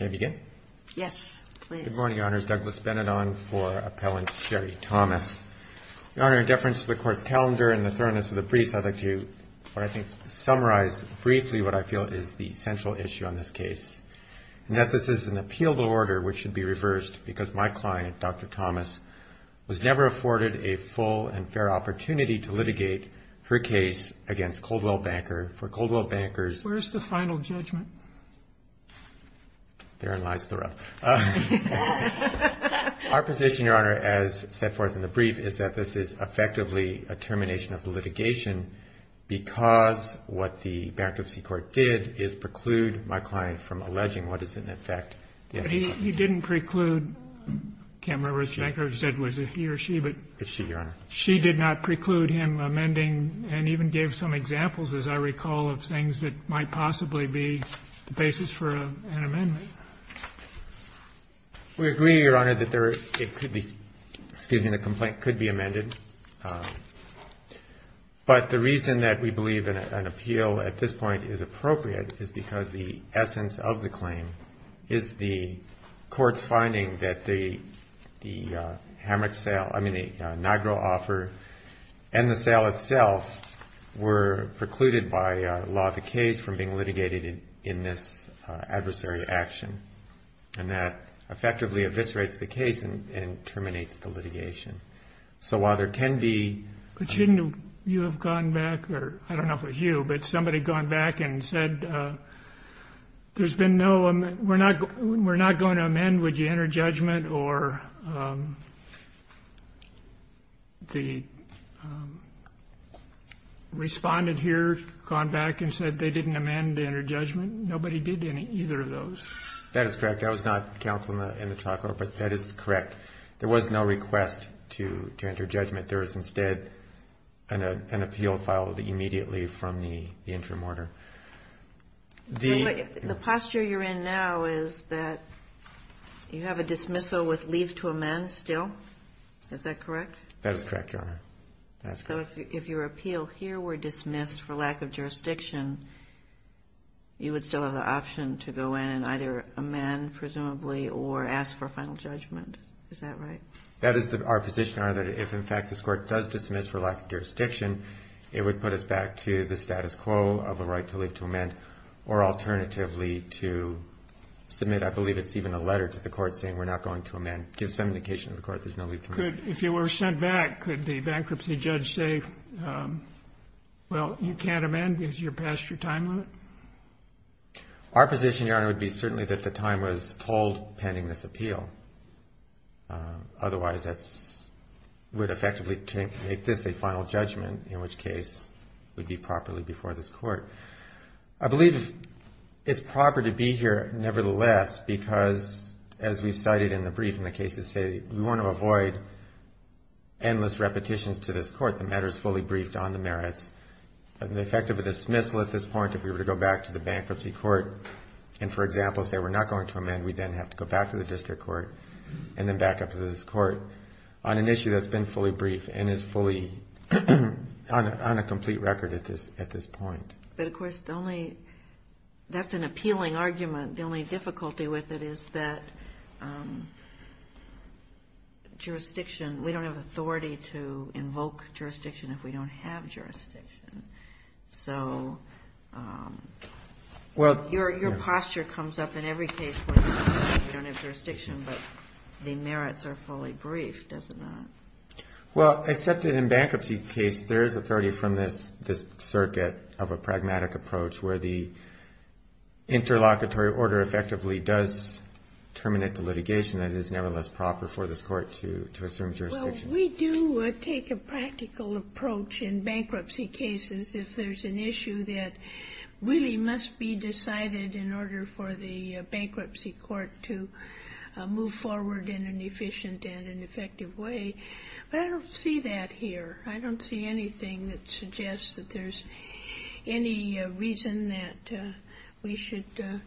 May I begin? Yes, please. Good morning, Your Honor. It's Douglas Benidorm for Appellant Sherry Thomas. Your Honor, in deference to the Court's calendar and the thoroughness of the briefs, I'd like to, I think, summarize briefly what I feel is the central issue on this case, and that this is an appealable order which should be reversed because my client, Dr. Thomas, was never afforded a full and full and fair opportunity to litigate her case against Coldwell Banker. For Coldwell Banker's Where's the final judgment? Therein lies the rub. Our position, Your Honor, as set forth in the brief, is that this is effectively a termination of the litigation because what the bankruptcy court did is preclude my client from alleging what is in effect. But he didn't preclude Kammerer, which Banker said was a he or she. It's she, Your Honor. She did not preclude him amending and even gave some examples, as I recall, of things that might possibly be the basis for an amendment. We agree, Your Honor, that it could be, excuse me, the complaint could be amended. But the reason that we believe an appeal at this point is appropriate is because the essence of the claim is the court's finding that the hammered sale, I mean, the inaugural offer and the sale itself were precluded by law of the case from being litigated in this adversary action, and that effectively eviscerates the case and terminates the litigation. So while there can be... But shouldn't you have gone back, or I don't know if it was you, but somebody gone back and said there's been no, we're not going to amend, would you enter judgment, or the respondent here gone back and said they didn't amend, enter judgment? Nobody did either of those. That is correct. That was not counsel in the trial court, but that is correct. There was no request to enter judgment. There was instead an appeal filed immediately from the interim order. The posture you're in now is that you have a dismissal with leave to amend still. Is that correct? That is correct, Your Honor. So if your appeal here were dismissed for lack of jurisdiction, you would still have the option to go in and either amend, presumably, or ask for final judgment. Is that right? That is our position, Your Honor, that if, in fact, this court does dismiss for lack of jurisdiction, it would put us back to the status quo of a right to leave to amend, or alternatively to submit, I believe it's even a letter to the court saying we're not going to amend. Give some indication to the court there's no leave to amend. If you were sent back, could the bankruptcy judge say, well, you can't amend because you're past your time limit? Our position, Your Honor, would be certainly that the time was told pending this appeal. Otherwise, that would effectively make this a final judgment, in which case it would be properly before this court. I believe it's proper to be here, nevertheless, because as we've cited in the brief and the cases say, we want to avoid endless repetitions to this court. The matter is fully briefed on the merits. The effect of a dismissal at this point, if we were to go back to the bankruptcy court and, for example, say we're not going to amend, we then have to go back to the district court and then back up to this court on an issue that's been fully briefed and is fully on a complete record at this point. But, of course, that's an appealing argument. The only difficulty with it is that jurisdiction, we don't have authority to invoke jurisdiction if we don't have jurisdiction. So your posture comes up in every case where you say we don't have jurisdiction, but the merits are fully briefed, does it not? Well, except in a bankruptcy case, there is authority from this circuit of a pragmatic approach where the interlocutory order effectively does terminate the litigation. That is, nevertheless, proper for this court to assume jurisdiction. Well, we do take a practical approach in bankruptcy cases if there's an issue that really must be decided in order for the bankruptcy court to move forward in an efficient and an effective way. But I don't see that here. I don't see anything that suggests that there's any reason that we should do.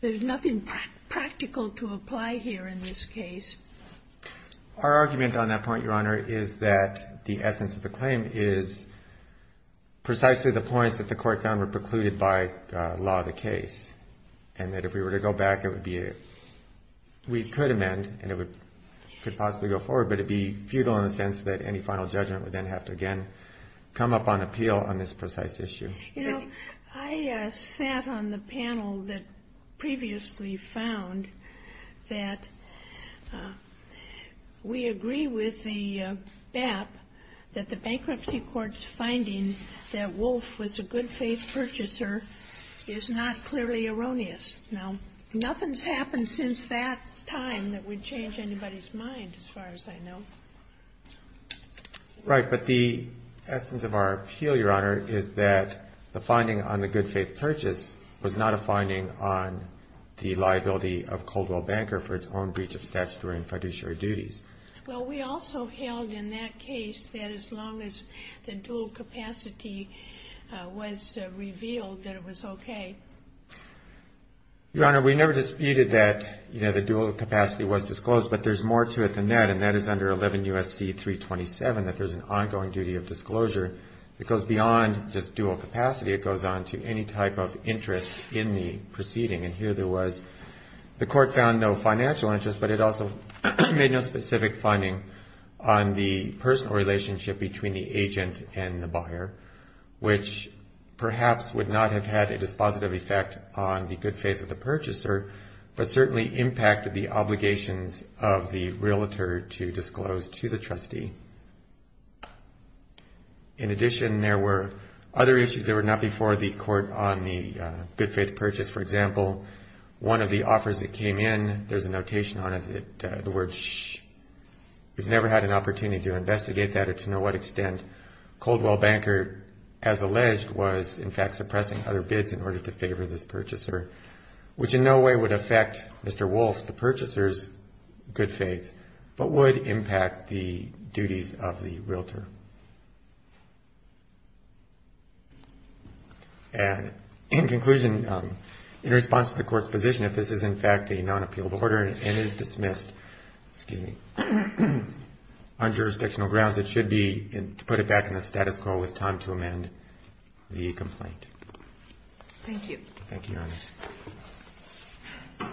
There's nothing practical to apply here in this case. Our argument on that point, Your Honor, is that the essence of the claim is precisely the points that the Court found were precluded by law of the case. And that if we were to go back, it would be we could amend, and it could possibly go forward, but it would be futile in the sense that any final judgment would then have to again come up on appeal on this precise issue. You know, I sat on the panel that previously found that we agree with the BAP that the bankruptcy court's finding that Wolf was a good-faith purchaser is not clearly erroneous. Now, nothing's happened since that time that would change anybody's mind, as far as I know. Right. But the essence of our appeal, Your Honor, is that the finding on the good-faith purchase was not a finding on the liability of Coldwell Banker for its own breach of statutory and fiduciary duties. Well, we also held in that case that as long as the dual capacity was revealed, that it was okay. Your Honor, we never disputed that, you know, the dual capacity was disclosed, but there's more to it than that, and that is under 11 U.S.C. 327 that there's an ongoing duty of disclosure that goes beyond just dual capacity. It goes on to any type of interest in the proceeding, and here there was the court found no financial interest, but it also made no specific finding on the personal relationship between the agent and the buyer, which perhaps would not have had a dispositive effect on the good faith of the purchaser, but certainly impacted the obligations of the realtor to disclose to the trustee. In addition, there were other issues that were not before the court on the good-faith purchase. For example, one of the offers that came in, there's a notation on it, the word shh. We've never had an opportunity to investigate that or to know what extent Coldwell Banker, as alleged, was, in fact, suppressing other bids in order to favor this purchaser, which in no way would affect Mr. Wolf, the purchaser's good faith, but would impact the duties of the realtor. And in conclusion, in response to the court's position, if this is, in fact, a non-appealable order and is dismissed on jurisdictional grounds, it should be put back in the status quo with time to amend the complaint. Thank you. Thank you, Your Honor.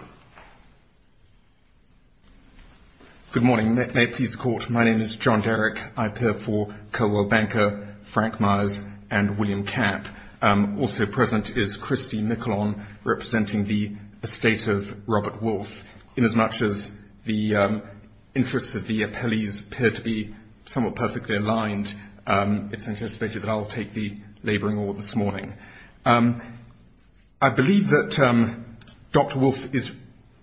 Good morning. May it please the Court, my name is John Derrick. I appear for Coldwell Banker, Frank Myers, and William Kapp. Also present is Christy McClone, representing the estate of Robert Wolf. Inasmuch as the interests of the appellees appear to be somewhat perfectly aligned, it's anticipated that I'll take the laboring order this morning. I believe that Dr. Wolf is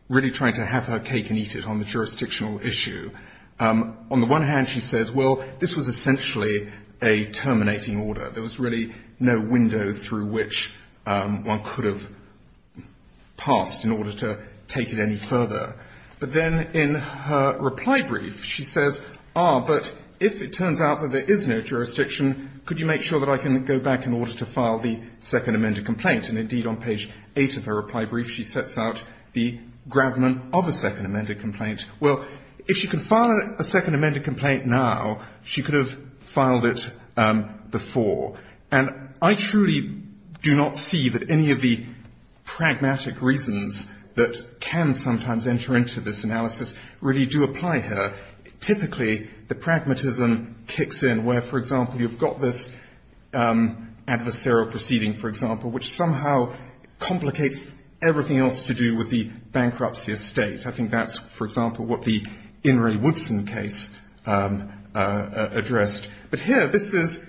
really trying to have her cake and eat it on the jurisdictional issue. On the one hand, she says, well, this was essentially a terminating order. There was really no window through which one could have passed in order to take it any further. But then in her reply brief, she says, ah, but if it turns out that there is no jurisdiction, could you make sure that I can go back in order to file the second amended complaint? And, indeed, on page 8 of her reply brief, she sets out the gravamen of a second amended complaint. Well, if she can file a second amended complaint now, she could have filed it before. And I truly do not see that any of the pragmatic reasons that can sometimes enter into this analysis really do apply here. Typically, the pragmatism kicks in where, for example, you've got this adversarial proceeding, for example, which somehow complicates everything else to do with the bankruptcy estate. I think that's, for example, what the In re Woodson case addressed. But here, this is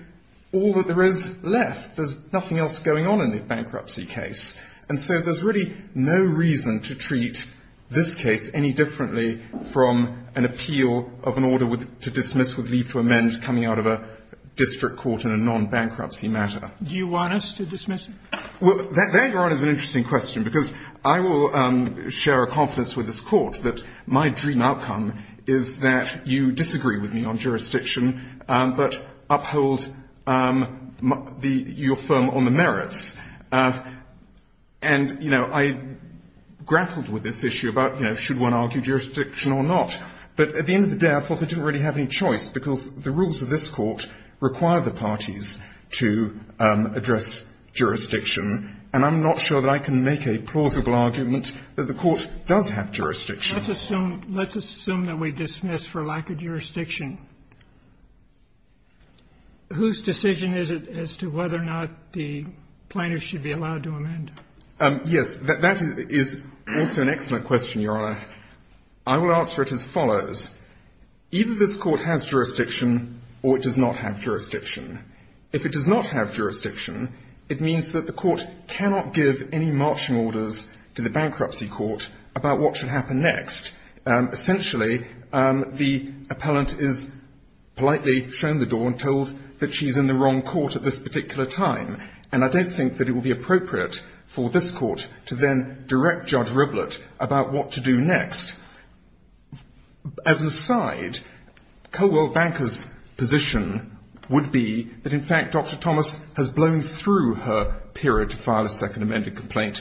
all that there is left. There's nothing else going on in the bankruptcy case. And so there's really no reason to treat this case any differently from an appeal of an order to dismiss with leave to amend coming out of a district court in a non-bankruptcy matter. Sotomayor Do you want us to dismiss it? Well, there, Your Honor, is an interesting question. Because I will share a confidence with this Court that my dream outcome is that you disagree with me on jurisdiction but uphold your firm on the merits. And, you know, I grappled with this issue about, you know, should one argue jurisdiction or not. But at the end of the day, I thought I didn't really have any choice because the rules of this Court require the parties to address jurisdiction. And I'm not sure that I can make a plausible argument that the Court does have jurisdiction. Let's assume that we dismiss for lack of jurisdiction. Whose decision is it as to whether or not the plaintiff should be allowed to amend? Yes. That is also an excellent question, Your Honor. I will answer it as follows. Either this Court has jurisdiction or it does not have jurisdiction. If it does not have jurisdiction, it means that the Court cannot give any marching orders to the bankruptcy court about what should happen next. Essentially, the appellant is politely shown the door and told that she's in the wrong court at this particular time. And I don't think that it would be appropriate for this Court to then direct Judge Riblett about what to do next. As an aside, Coldwell Banker's position would be that, in fact, Dr. Thomas has blown through her period to file a second amended complaint.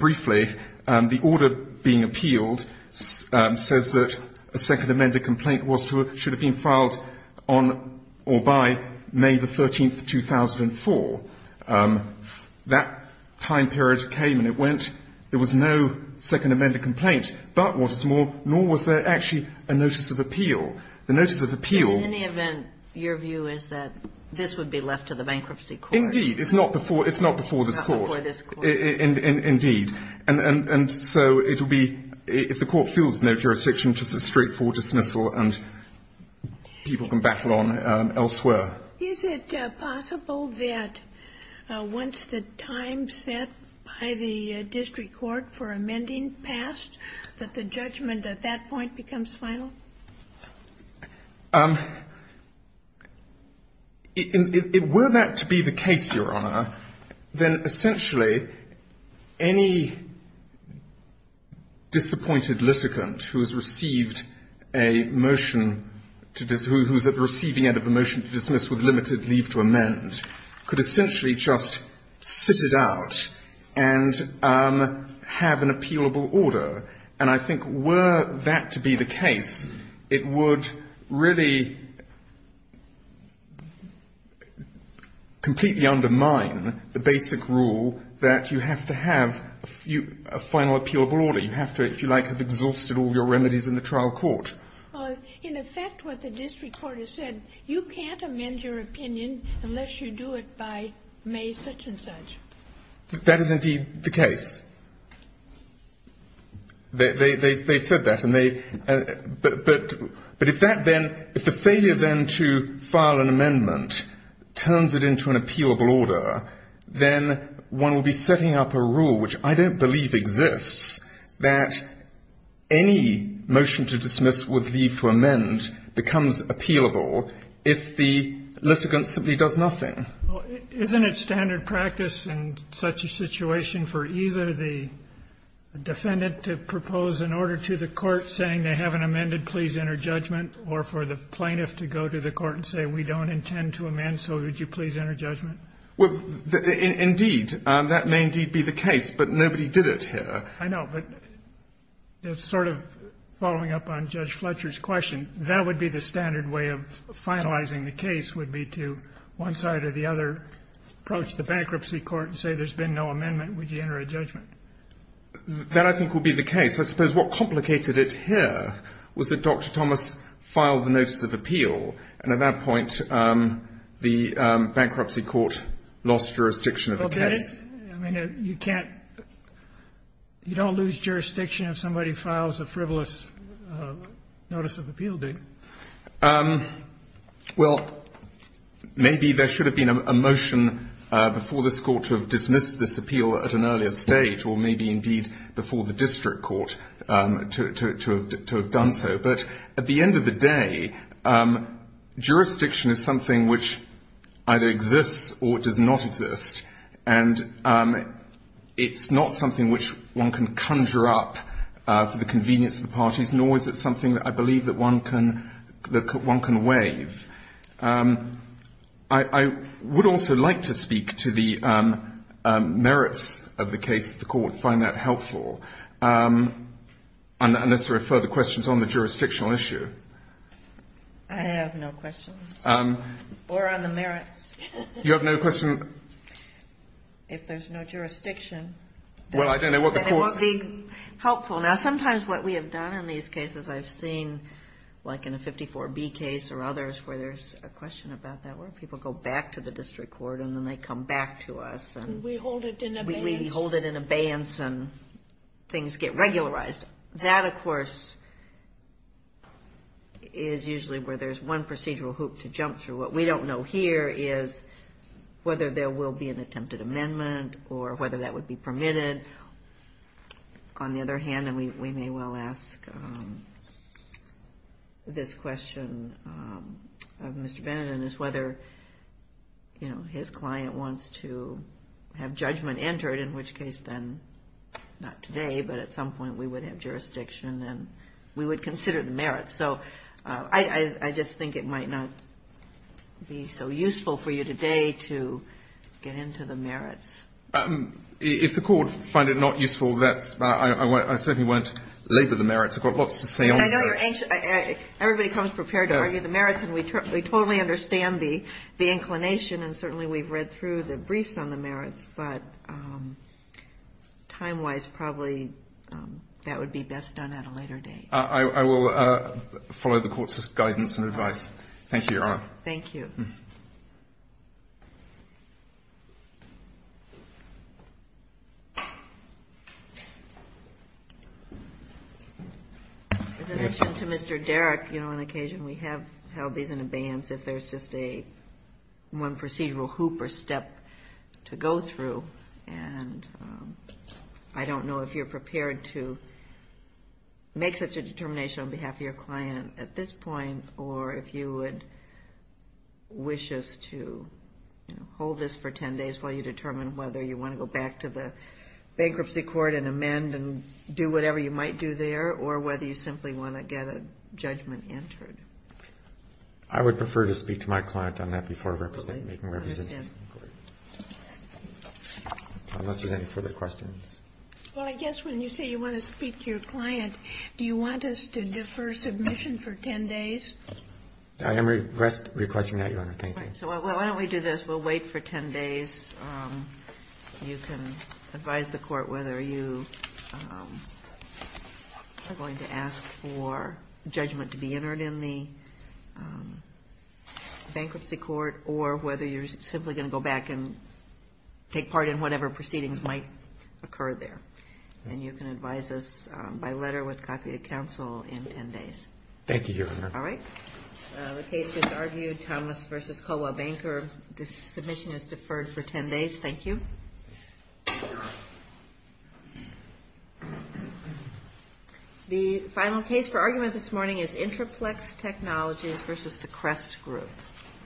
Briefly, the order being appealed says that a second amended complaint should have been filed on or by May 13, 2004. That time period came and it went. There was no second amended complaint. But what is more, nor was there actually a notice of appeal. The notice of appeal was that this would be left to the bankruptcy court. Indeed. It's not before this Court. Not before this Court. Indeed. And so it would be, if the Court feels no jurisdiction, just a straightforward dismissal and people can battle on elsewhere. Is it possible that once the time set by the district court for amending passed, that the judgment at that point becomes final? Were that to be the case, Your Honor, then essentially any disappointed litigant who has received a motion to dismiss, who is at the receiving end of a motion to dismiss with limited leave to amend, could essentially just sit it out and have an appealable order. And I think were that to be the case, it would really completely undermine the basic rule that you have to have a final appealable order. You have to, if you like, have exhausted all your remedies in the trial court. In effect, what the district court has said, you can't amend your opinion unless you do it by May such and such. That is indeed the case. They said that. But if that then, if the failure then to file an amendment turns it into an appealable order, then one will be setting up a rule, which I don't believe exists, that any motion to dismiss with leave to amend becomes appealable if the litigant simply does nothing. Well, isn't it standard practice in such a situation for either the defendant to propose an order to the court saying they haven't amended, please enter judgment, or for the plaintiff to go to the court and say we don't intend to amend, so would you please enter judgment? Well, indeed. That may indeed be the case. But nobody did it here. I know. But sort of following up on Judge Fletcher's question, that would be the standard way of finalizing the case would be to one side or the other approach the bankruptcy court and say there's been no amendment, would you enter a judgment? That I think would be the case. I suppose what complicated it here was that Dr. Thomas filed the notice of appeal. And at that point, the bankruptcy court lost jurisdiction of the case. Well, that is – I mean, you can't – you don't lose jurisdiction if somebody files a frivolous notice of appeal, do you? Well, maybe there should have been a motion before this Court to have dismissed this appeal at an earlier stage, or maybe indeed before the district court to have done so. But at the end of the day, jurisdiction is something which either exists or does not exist. And it's not something which one can conjure up for the convenience of the parties, nor is it something that I believe that one can – that one can waive. I would also like to speak to the merits of the case if the Court would find that to be a jurisdictional issue. I have no questions. Or on the merits. You have no question? If there's no jurisdiction. Well, I don't know what the course is. And it won't be helpful. Now, sometimes what we have done in these cases, I've seen like in a 54B case or others where there's a question about that, where people go back to the district court and then they come back to us. We hold it in abeyance. We hold it in abeyance and things get regularized. That, of course, is usually where there's one procedural hoop to jump through. What we don't know here is whether there will be an attempted amendment or whether that would be permitted. On the other hand, and we may well ask this question of Mr. Beneden, is whether, you know, his client wants to have judgment entered, in which case then, not We would consider the merits. So I just think it might not be so useful for you today to get into the merits. If the court finds it not useful, I certainly won't labor the merits. I've got lots to say on this. Everybody comes prepared to argue the merits. And we totally understand the inclination. And certainly we've read through the briefs on the merits. But time-wise, probably that would be best done at a later date. I will follow the court's guidance and advice. Thank you, Your Honor. Thank you. In addition to Mr. Derrick, you know, on occasion we have held these in abeyance. If there's just a one procedural hoop or step to go through. And I don't know if you're prepared to make such a determination on behalf of your client at this point or if you would wish us to hold this for 10 days while you determine whether you want to go back to the bankruptcy court and amend and do whatever you might do there or whether you simply want to get a judgment entered. I would prefer to speak to my client on that before making representations. Unless there's any further questions. Well, I guess when you say you want to speak to your client, do you want us to defer submission for 10 days? I am requesting that, Your Honor. Thank you. So why don't we do this. We'll wait for 10 days. You can advise the court whether you are going to ask for judgment to be entered in the bankruptcy court or whether you're simply going to go back and take part in whatever proceedings might occur there. And you can advise us by letter with copy of counsel in 10 days. Thank you, Your Honor. All right. The case was argued, Thomas v. Colwell Banker. Submission is deferred for 10 days. Thank you. The final case for argument this morning is Intraplex Technologies v. The Crest Group.